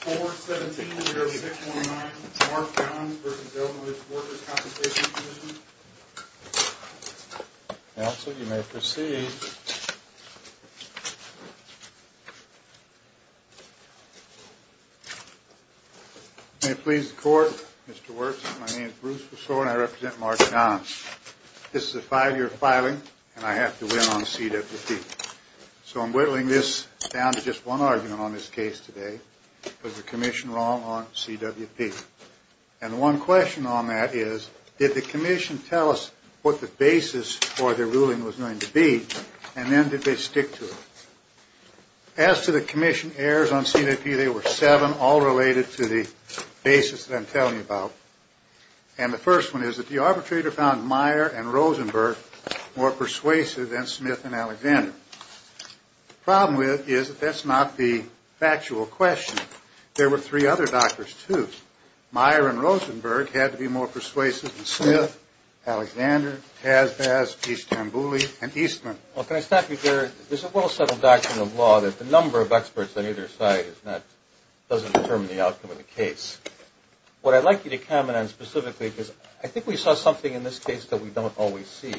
Court 17-06-19 Mark Gons v. Eleanor's Workers' Compensation Commission Counsel, you may proceed. May it please the Court, Mr. Wirtz, my name is Bruce Rousseau and I represent Mark Gons. This is a five-year filing and I have to win on CWC. So I'm whittling this down to just one argument on this case today. Was the Commission wrong on CWP? And one question on that is, did the Commission tell us what the basis for their ruling was going to be and then did they stick to it? As to the Commission errors on CWP, there were seven, all related to the basis that I'm telling you about. And the first one is that the arbitrator found Meyer and Rosenberg more persuasive than Smith and Alexander. The problem with it is that that's not the factual question. There were three other doctors, too. Meyer and Rosenberg had to be more persuasive than Smith, Alexander, Kazbaz, Eastambouli, and Eastman. Well, can I stop you there? There's a well-settled doctrine of law that the number of experts on either side doesn't determine the outcome of the case. What I'd like you to comment on specifically is I think we saw something in this case that we don't always see.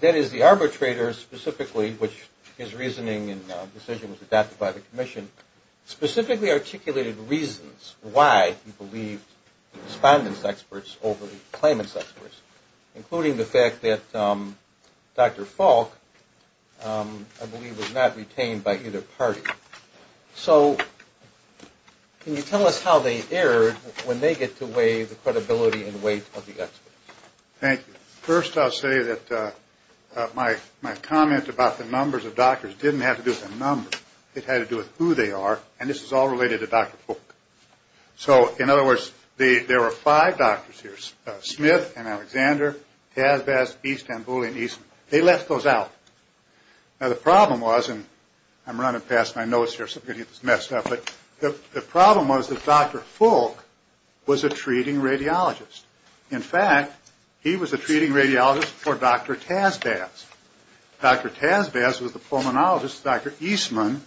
That is, the arbitrator specifically, which his reasoning and decision was adopted by the Commission, specifically articulated reasons why he believed the respondent's experts over the claimant's experts, including the fact that Dr. Falk, I believe, was not retained by either party. So can you tell us how they erred when they get to weigh the credibility and weight of the experts? Thank you. First, I'll say that my comment about the numbers of doctors didn't have to do with the numbers. It had to do with who they are, and this is all related to Dr. Falk. So, in other words, there were five doctors here, Smith and Alexander, Kazbaz, Eastambouli, and Eastman. They left those out. Now, the problem was, and I'm running past my notes here, so I'm going to get this messed up, but the problem was that Dr. Falk was a treating radiologist. In fact, he was a treating radiologist for Dr. Kazbaz. Dr. Kazbaz was the pulmonologist that Dr. Eastman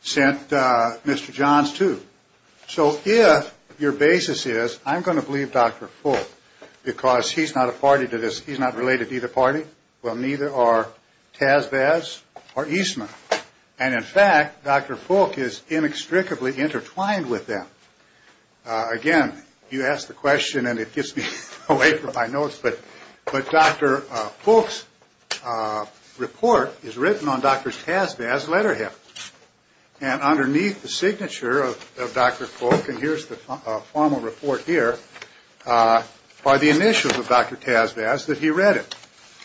sent Mr. Johns to. So if your basis is I'm going to believe Dr. Falk because he's not a party to this, he's not related to either party, well, neither are Kazbaz or Eastman. And, in fact, Dr. Falk is inextricably intertwined with them. Again, you ask the question and it gets me away from my notes, but Dr. Falk's report is written on Dr. Kazbaz's letterhead. And underneath the signature of Dr. Falk, and here's the formal report here, are the initials of Dr. Kazbaz that he read it.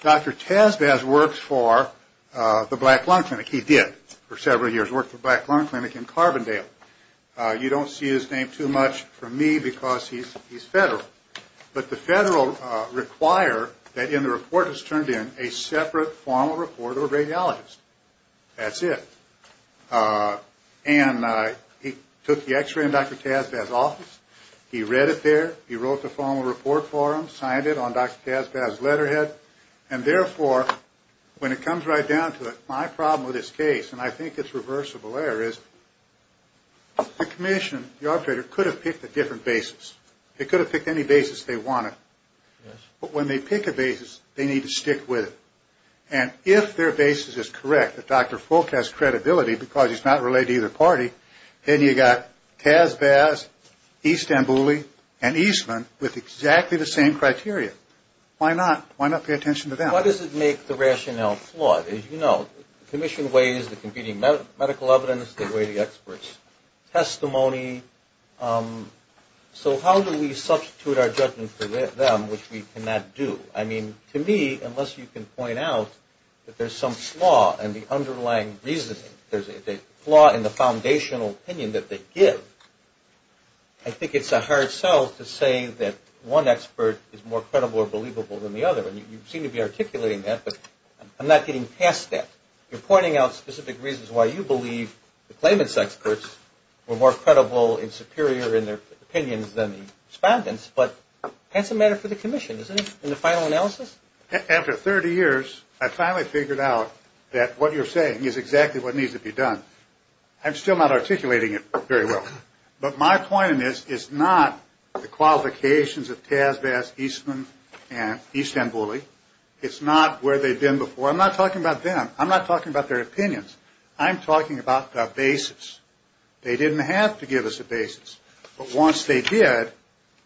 Dr. Kazbaz worked for the Black Lung Clinic. He did for several years work for the Black Lung Clinic in Carbondale. You don't see his name too much for me because he's federal. But the federal require that in the report is turned in a separate formal report of a radiologist. That's it. And he took the X-ray in Dr. Kazbaz's office. He read it there. He wrote the formal report for him, signed it on Dr. Kazbaz's letterhead. And, therefore, when it comes right down to it, my problem with this case, and I think it's reversible error, is the commission, the operator, could have picked a different basis. They could have picked any basis they wanted. But when they pick a basis, they need to stick with it. And if their basis is correct, if Dr. Falk has credibility because he's not related to either party, then you've got Kazbaz, Istanbuli, and Eastman with exactly the same criteria. Why not? Why not pay attention to them? Why does it make the rationale flawed? As you know, the commission weighs the competing medical evidence. They weigh the experts. Testimony. So how do we substitute our judgment for them, which we cannot do? I mean, to me, unless you can point out that there's some flaw in the underlying reasoning, there's a flaw in the foundational opinion that they give, I think it's a hard sell to say that one expert is more credible or believable than the other. And you seem to be articulating that, but I'm not getting past that. You're pointing out specific reasons why you believe the claimants' experts were more credible and superior in their opinions than the respondents. But that's a matter for the commission, isn't it, in the final analysis? After 30 years, I finally figured out that what you're saying is exactly what needs to be done. I'm still not articulating it very well. But my point in this is not the qualifications of Kazbaz, Eastman, and Istanbuli. It's not where they've been before. I'm not talking about them. I'm not talking about their opinions. I'm talking about the basis. They didn't have to give us a basis. But once they did,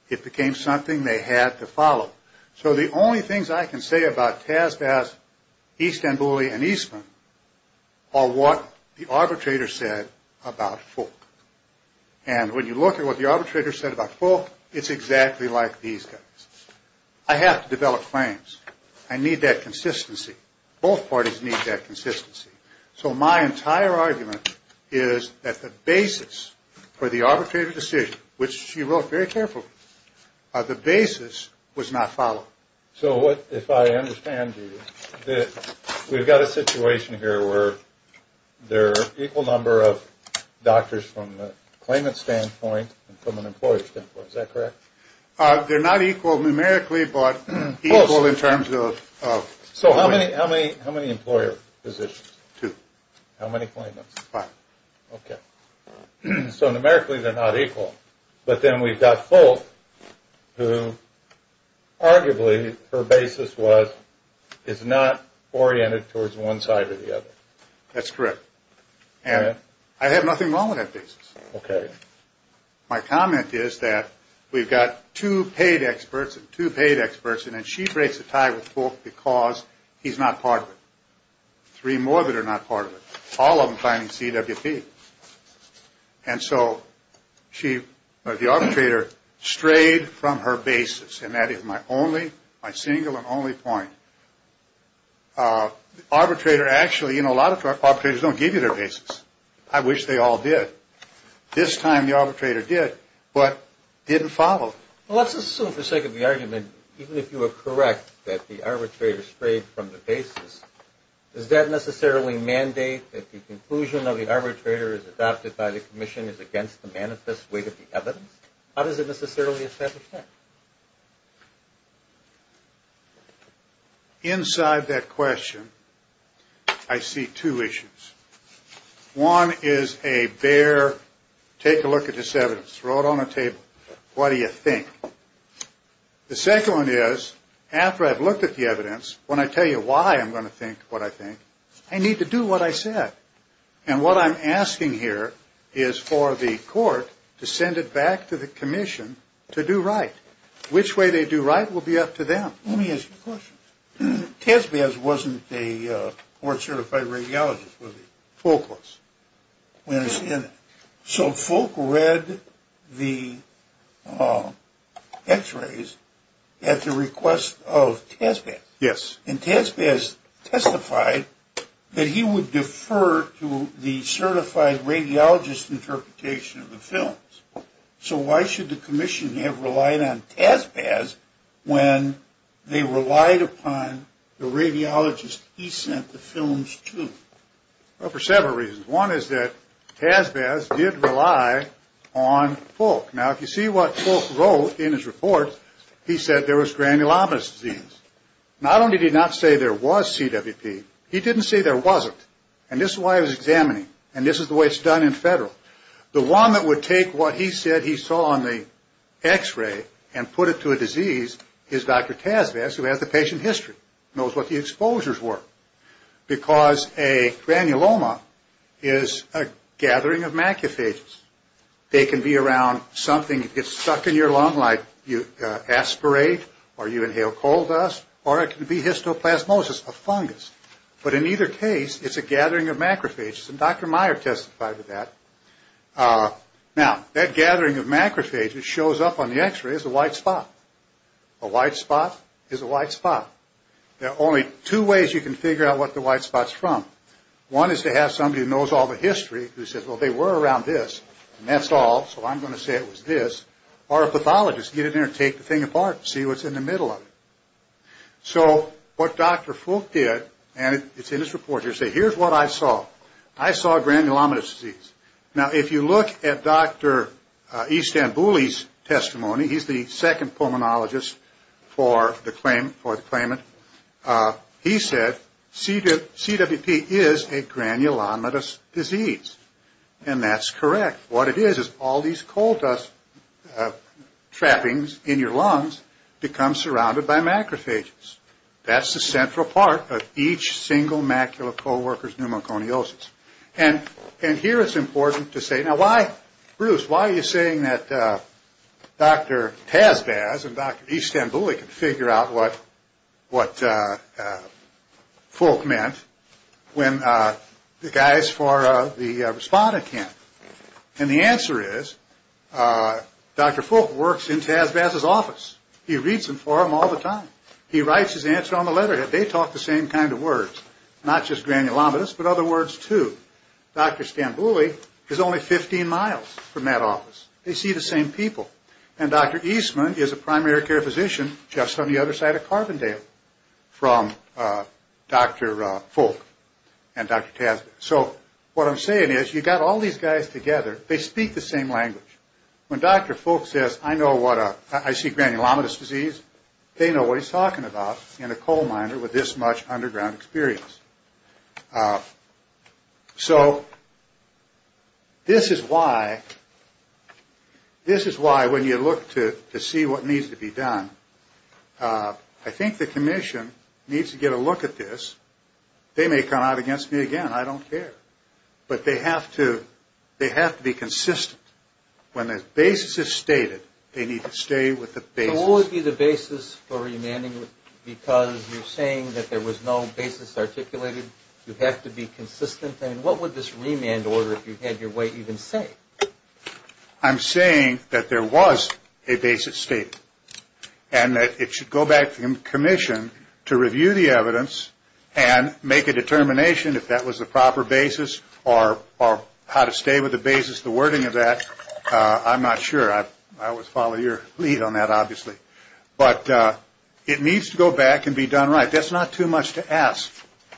it became something they had to follow. So the only things I can say about Kazbaz, Istanbuli, and Eastman are what the arbitrator said about Fulk. And when you look at what the arbitrator said about Fulk, it's exactly like these guys. I have to develop claims. I need that consistency. Both parties need that consistency. So my entire argument is that the basis for the arbitrator decision, which she wrote very carefully, the basis was not followed. So if I understand you, we've got a situation here where there are an equal number of doctors from the claimant standpoint and from an employer standpoint. Is that correct? They're not equal numerically, but equal in terms of- So how many employer positions? Two. How many claimants? Five. Okay. So numerically, they're not equal. But then we've got Fulk, who arguably, her basis was, is not oriented towards one side or the other. That's correct. And I have nothing wrong with that basis. Okay. My comment is that we've got two paid experts and two paid experts, and then she breaks the tie with Fulk because he's not part of it. Three more that are not part of it, all of them finding CWP. And so she, the arbitrator, strayed from her basis, and that is my only, my single and only point. Arbitrator actually, you know, a lot of arbitrators don't give you their basis. I wish they all did. This time the arbitrator did, but didn't follow. Well, let's assume for the sake of the argument, even if you are correct that the arbitrator strayed from the basis, does that necessarily mandate that the conclusion of the arbitrator is adopted by the commission is against the manifest weight of the evidence? How does it necessarily establish that? Inside that question, I see two issues. One is a bare, take a look at this evidence, throw it on a table, what do you think? The second one is, after I've looked at the evidence, when I tell you why I'm going to think what I think, I need to do what I said. And what I'm asking here is for the court to send it back to the commission to do right. Which way they do right will be up to them. Let me ask you a question. TESBAS wasn't a court-certified radiologist, was it? Fulk was. So Fulk read the x-rays at the request of TESBAS. Yes. And TESBAS testified that he would defer to the certified radiologist interpretation of the films. So why should the commission have relied on TESBAS when they relied upon the radiologist he sent the films to? Well, for several reasons. One is that TESBAS did rely on Fulk. Now, if you see what Fulk wrote in his report, he said there was granulomatous disease. Not only did he not say there was CWP, he didn't say there wasn't. And this is why he was examining. And this is the way it's done in federal. The one that would take what he said he saw on the x-ray and put it to a disease is Dr. TESBAS, who has the patient history, knows what the exposures were. Because a granuloma is a gathering of macrophages. They can be around something that gets stuck in your lung, like you aspirate or you inhale coal dust, or it can be histoplasmosis, a fungus. But in either case, it's a gathering of macrophages, and Dr. Meyer testified to that. Now, that gathering of macrophages shows up on the x-ray as a white spot. A white spot is a white spot. There are only two ways you can figure out what the white spot is from. One is to have somebody who knows all the history who says, well, they were around this, and that's all, so I'm going to say it was this, or a pathologist. Get in there and take the thing apart and see what's in the middle of it. So what Dr. Fulk did, and it's in his report, he said, here's what I saw. I saw granulomatous disease. Now, if you look at Dr. Istanbuli's testimony, he's the second pulmonologist for the claim and he said, CWP is a granulomatous disease, and that's correct. What it is is all these coal dust trappings in your lungs become surrounded by macrophages. That's the central part of each single macula of co-worker's pneumoconiosis. And here it's important to say, now why, Bruce, why are you saying that Dr. Tazbaz and Dr. Istanbuli can figure out what Fulk meant when the guys for the respondent can't? And the answer is Dr. Fulk works in Tazbaz's office. He reads them for him all the time. He writes his answer on the letterhead. They talk the same kind of words, not just granulomatous, but other words too. Dr. Istanbuli is only 15 miles from that office. They see the same people. And Dr. Eastman is a primary care physician just on the other side of Carbondale from Dr. Fulk and Dr. Tazbaz. So what I'm saying is you've got all these guys together. They speak the same language. When Dr. Fulk says, I know what a, I see granulomatous disease, they know what he's talking about in a coal miner with this much underground experience. So this is why when you look to see what needs to be done, I think the commission needs to get a look at this. They may come out against me again. I don't care. But they have to be consistent. When the basis is stated, they need to stay with the basis. So what would be the basis for remanding? Because you're saying that there was no basis articulated. You have to be consistent. And what would this remand order, if you had your way, even say? I'm saying that there was a basis stated and that it should go back to the commission to review the evidence and make a determination if that was the proper basis or how to stay with the basis, the wording of that. I'm not sure. I always follow your lead on that, obviously. But it needs to go back and be done right. That's not too much to ask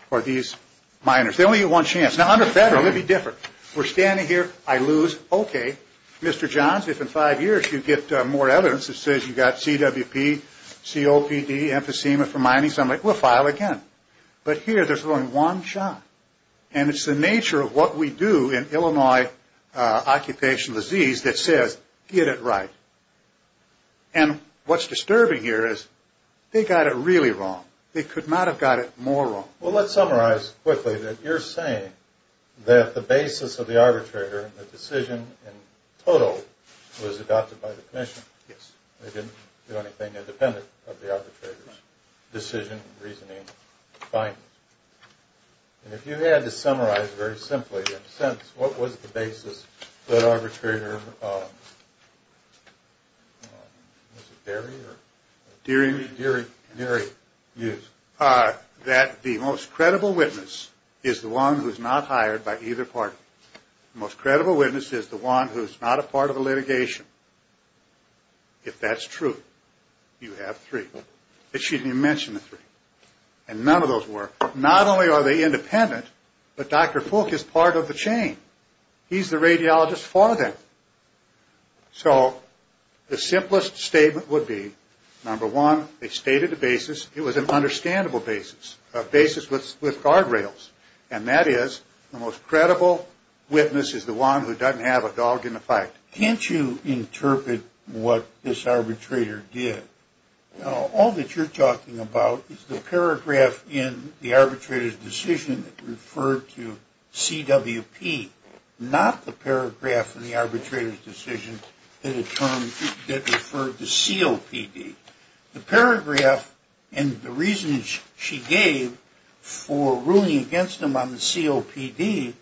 for these miners. They only get one chance. Now, under federal, it would be different. We're standing here. I lose. Okay, Mr. Johns, if in five years you get more evidence that says you got CWP, COPD, emphysema for mining, somebody will file again. But here, there's only one shot. And it's the nature of what we do in Illinois occupational disease that says get it right. And what's disturbing here is they got it really wrong. They could not have got it more wrong. Well, let's summarize quickly that you're saying that the basis of the arbitrator, the decision in total, was adopted by the commission. Yes. They didn't do anything independent of the arbitrator's decision, reasoning, findings. And if you had to summarize very simply, in a sense, what was the basis that arbitrator, was it Berry or? Deary. Deary used. That the most credible witness is the one who's not hired by either party. The most credible witness is the one who's not a part of the litigation. If that's true, you have three. It shouldn't even mention the three. And none of those work. Not only are they independent, but Dr. Fulk is part of the chain. He's the radiologist for them. So the simplest statement would be, number one, they stated the basis. It was an understandable basis, a basis with guardrails. And that is the most credible witness is the one who doesn't have a dog in the fight. Can't you interpret what this arbitrator did? All that you're talking about is the paragraph in the arbitrator's decision that referred to CWP, not the paragraph in the arbitrator's decision that referred to COPD. The paragraph and the reasons she gave for ruling against him on the COPD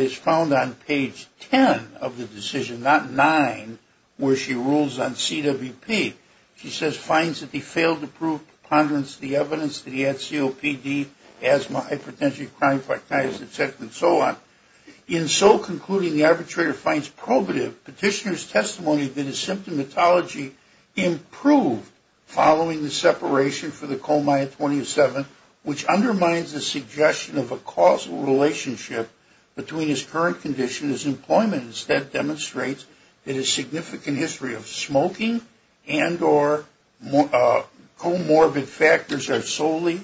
is found on page 10 of the decision, not 9, where she rules on CWP. She says, finds that he failed to prove preponderance of the evidence that he had COPD, asthma, hypertension, chronic arthritis, et cetera, and so on. In so concluding, the arbitrator finds probative petitioner's testimony that his symptomatology improved following the separation for the coma at 27, which undermines the suggestion of a causal relationship between his current condition and his employment instead demonstrates that his significant history of smoking and or comorbid factors are solely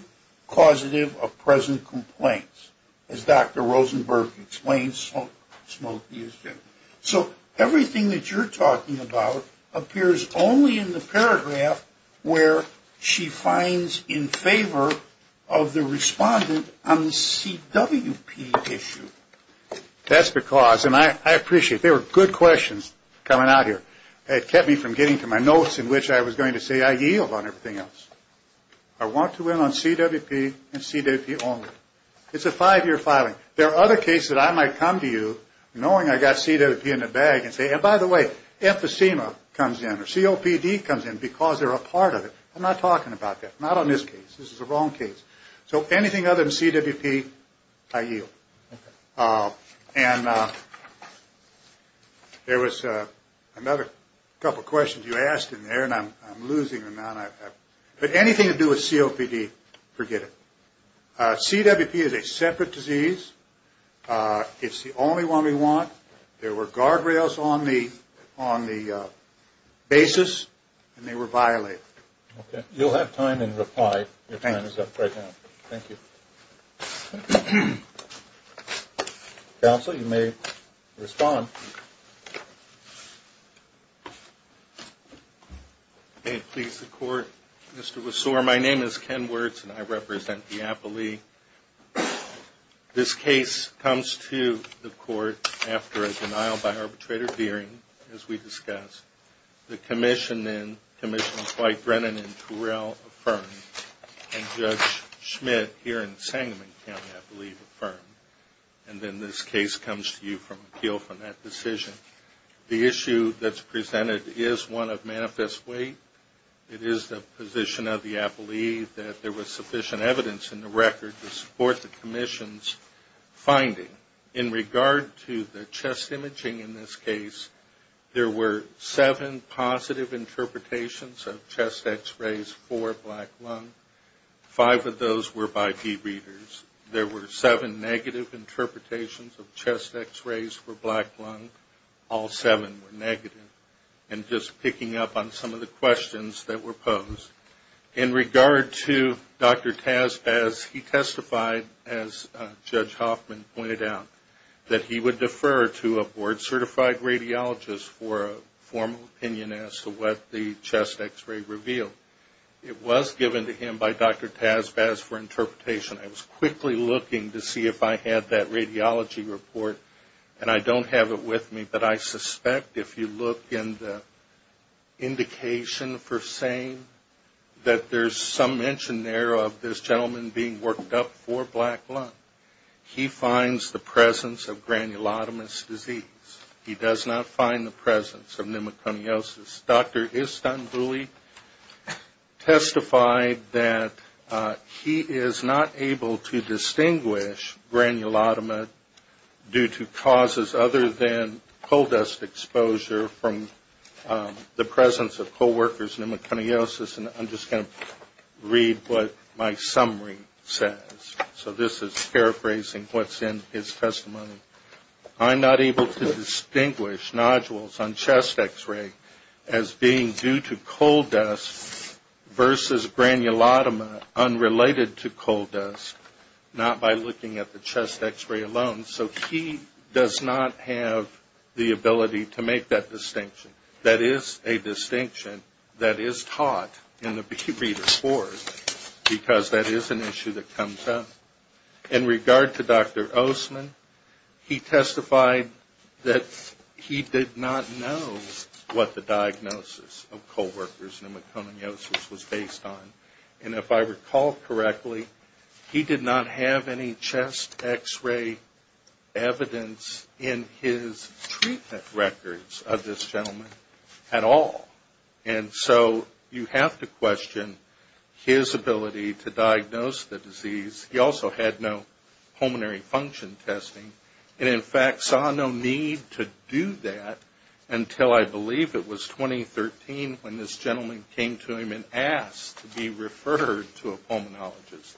causative of present complaints. As Dr. Rosenberg explains, smoking is due. So everything that you're talking about appears only in the paragraph where she finds in favor of the respondent on the CWP issue. That's because, and I appreciate, there were good questions coming out here. It kept me from getting to my notes in which I was going to say I yield on everything else. I want to win on CWP and CWP only. It's a five-year filing. There are other cases that I might come to you knowing I got CWP in the bag and say, and by the way, emphysema comes in or COPD comes in because they're a part of it. I'm not talking about that. Not on this case. This is the wrong case. So anything other than CWP, I yield. And there was another couple questions you asked in there, and I'm losing them now. But anything to do with COPD, forget it. CWP is a separate disease. It's the only one we want. There were guardrails on the basis, and they were violated. Okay. You'll have time in reply. Your time is up right now. Thank you. Counsel, you may respond. Please, the court. Mr. Wessor, my name is Ken Wertz, and I represent Diapolee. This case comes to the court after a denial by arbitrator hearing, as we discussed. The commission then, Commissioner Dwight Brennan and Terrell affirmed, and Judge Schmidt here in Sangamon County, I believe, affirmed. And then this case comes to you from appeal from that decision. The issue that's presented is one of manifest weight. It is the position of Diapolee that there was sufficient evidence in the record to support the commission's finding. In regard to the chest imaging in this case, there were seven positive interpretations of chest X-rays for black lung. Five of those were by D-readers. There were seven negative interpretations of chest X-rays for black lung. All seven were negative. And just picking up on some of the questions that were posed. In regard to Dr. Tazbaz, he testified, as Judge Hoffman pointed out, that he would defer to a board-certified radiologist for a formal opinion as to what the chest X-ray revealed. It was given to him by Dr. Tazbaz for interpretation. I was quickly looking to see if I had that radiology report, and I don't have it with me. But I suspect if you look in the indication for saying that there's some mention there of this gentleman being worked up for black lung, he finds the presence of granulotomous disease. He does not find the presence of pneumoconiosis. Dr. Istanbuli testified that he is not able to distinguish granulotomous due to causes other than coal dust exposure from the presence of co-workers' pneumoconiosis. And I'm just going to read what my summary says. So this is paraphrasing what's in his testimony. I'm not able to distinguish nodules on chest X-ray as being due to coal dust versus granulotoma unrelated to coal dust, not by looking at the chest X-ray alone. So he does not have the ability to make that distinction. That is a distinction that is taught in the reader's board, because that is an issue that comes up. In regard to Dr. Oseman, he testified that he did not know what the diagnosis of coal workers' pneumoconiosis was based on. And if I recall correctly, he did not have any chest X-ray evidence in his treatment records of this gentleman at all. And so you have to question his ability to diagnose the disease. He also had no pulmonary function testing and, in fact, saw no need to do that until, I believe, it was 2013 when this gentleman came to him and asked to be referred to a pulmonologist.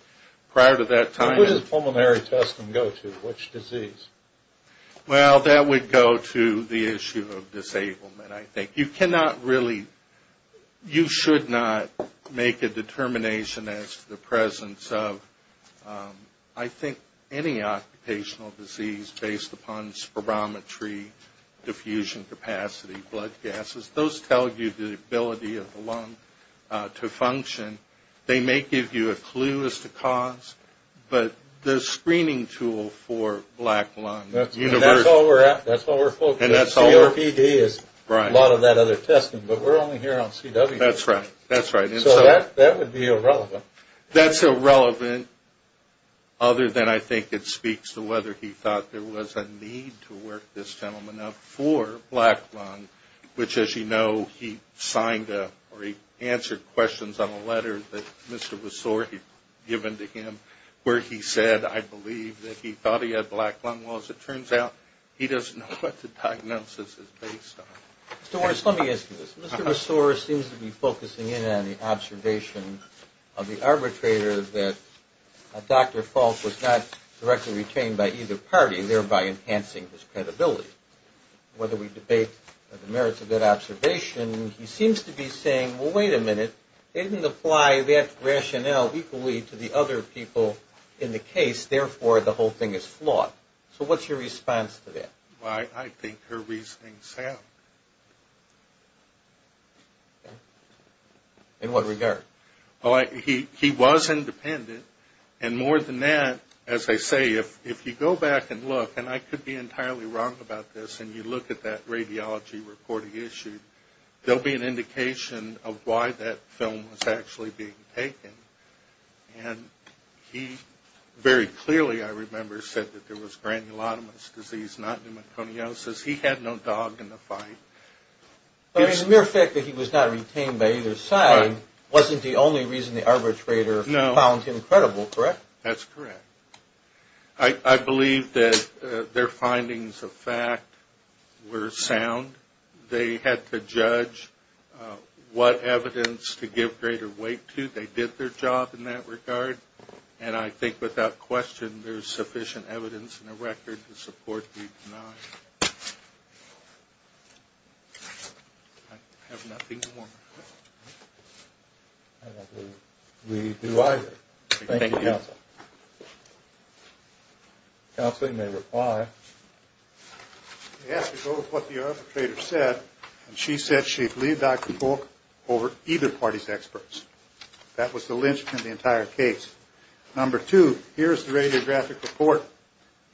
Prior to that time... What does pulmonary testing go to? Which disease? Well, that would go to the issue of disablement, I think. You cannot really, you should not make a determination as to the presence of, I think, any occupational disease based upon spirometry, diffusion capacity, blood gases. Those tell you the ability of the lung to function. They may give you a clue as to cause, but the screening tool for black lung... That's all we're focused on. CRPD is a lot of that other testing, but we're only here on CW. That's right. So that would be irrelevant. That's irrelevant other than, I think, it speaks to whether he thought there was a need to work this gentleman up for black lung, which, as you know, he signed a, or he answered questions on a letter that Mr. Messore had given to him where he said, I believe, that he thought he had black lung. Well, as it turns out, he doesn't know what the diagnosis is based on. Mr. Orris, let me ask you this. Mr. Messore seems to be focusing in on the observation of the arbitrator that Dr. Falk was not directly retained by either party, thereby enhancing his credibility. Whether we debate the merits of that observation, he seems to be saying, well, wait a minute, they didn't apply that rationale equally to the other people in the case, therefore the whole thing is flawed. So what's your response to that? Well, I think her reasoning is sound. In what regard? Well, he was independent, and more than that, as I say, if you go back and look, and I could be entirely wrong about this, and you look at that radiology reporting issue, there will be an indication of why that film was actually being taken. And he very clearly, I remember, said that there was granulotomous disease, not pneumoconiosis. He had no dog in the fight. But in the mere fact that he was not retained by either side wasn't the only reason the arbitrator found him credible, correct? That's correct. I believe that their findings of fact were sound. They had to judge what evidence to give greater weight to. They did their job in that regard. And I think without question there's sufficient evidence in the record to support the denial. I have nothing more. I don't believe we do either. Thank you, Counsel. Counsel, you may reply. It has to go with what the arbitrator said, and she said she believed Dr. Folk over either party's experts. That was the linchpin of the entire case. Number two, here's the radiographic report.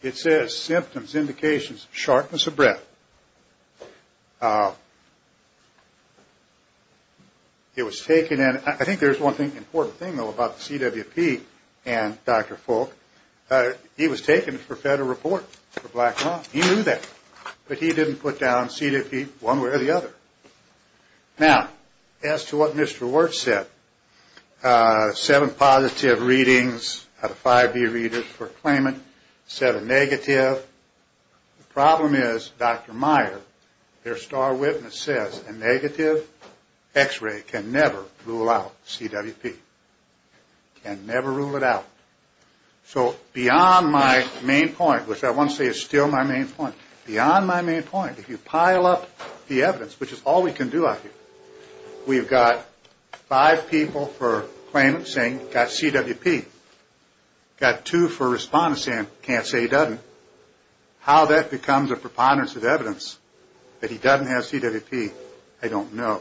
It says symptoms, indications, sharpness of breath. It was taken, and I think there's one important thing, though, about the CWP and Dr. Folk. He was taken for federal report for black law. He knew that. But he didn't put down CWP one way or the other. Now, as to what Mr. Wertz said, seven positive readings out of 5B readers for claimant, seven negative. The problem is, Dr. Meyer, their star witness, says a negative X-ray can never rule out CWP, can never rule it out. So beyond my main point, which I want to say is still my main point, beyond my main point, if you pile up the evidence, which is all we can do out here, we've got five people for claimant saying got CWP, got two for respondent saying can't say he doesn't. How that becomes a preponderance of evidence, that he doesn't have CWP, I don't know.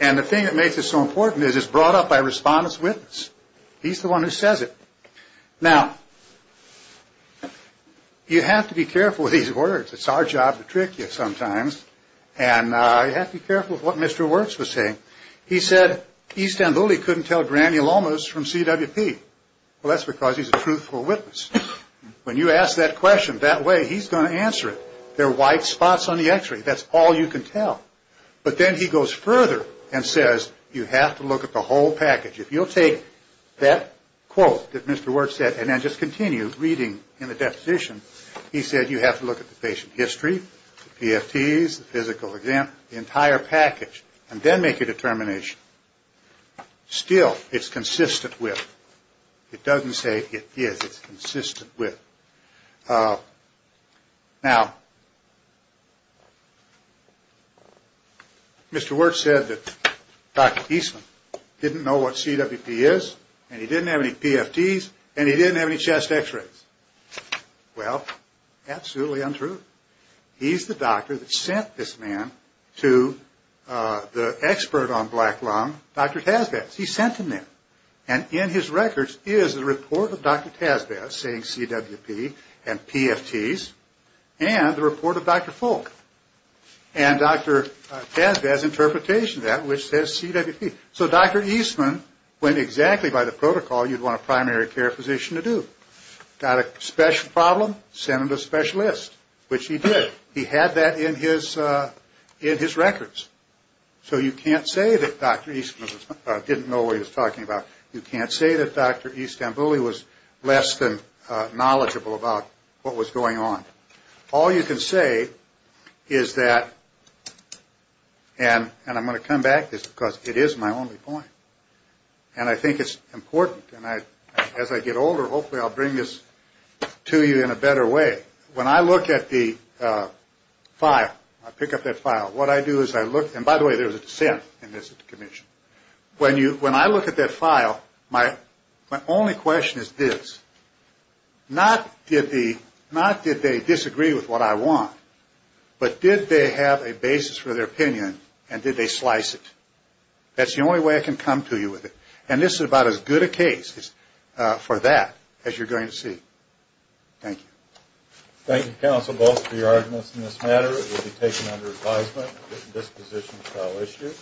And the thing that makes it so important is it's brought up by respondent's witness. He's the one who says it. Now, you have to be careful with these words. It's our job to trick you sometimes. And you have to be careful with what Mr. Wertz was saying. He said E. Stambouli couldn't tell granny Lomas from CWP. Well, that's because he's a truthful witness. When you ask that question that way, he's going to answer it. There are white spots on the x-ray. That's all you can tell. But then he goes further and says you have to look at the whole package. If you'll take that quote that Mr. Wertz said and then just continue reading in the deposition, he said you have to look at the patient history, the PFTs, the physical exam, the entire package, and then make a determination. Still, it's consistent with. It doesn't say it is. It's consistent with. Now, Mr. Wertz said that Dr. Eastman didn't know what CWP is and he didn't have any PFTs and he didn't have any chest x-rays. Well, absolutely untrue. He's the doctor that sent this man to the expert on black lung, Dr. Tasbass. He sent him there. And in his records is the report of Dr. Tasbass saying CWP and PFTs and the report of Dr. Folk and Dr. Tasbass' interpretation of that, which says CWP. So Dr. Eastman went exactly by the protocol you'd want a primary care physician to do. Got a special problem, sent him to a specialist, which he did. He had that in his records. So you can't say that Dr. Eastman didn't know what he was talking about. You can't say that Dr. Istanbuli was less than knowledgeable about what was going on. All you can say is that, and I'm going to come back to this because it is my only point, and I think it's important, and as I get older, hopefully I'll bring this to you in a better way. When I look at the file, I pick up that file. What I do is I look, and by the way, there was a dissent in this at the commission. When I look at that file, my only question is this. Not did they disagree with what I want, but did they have a basis for their opinion and did they slice it? That's the only way I can come to you with it. And this is about as good a case for that as you're going to see. Thank you. Thank you, counsel, both for your arguments in this matter. It will be taken under advisement at this position of trial issue.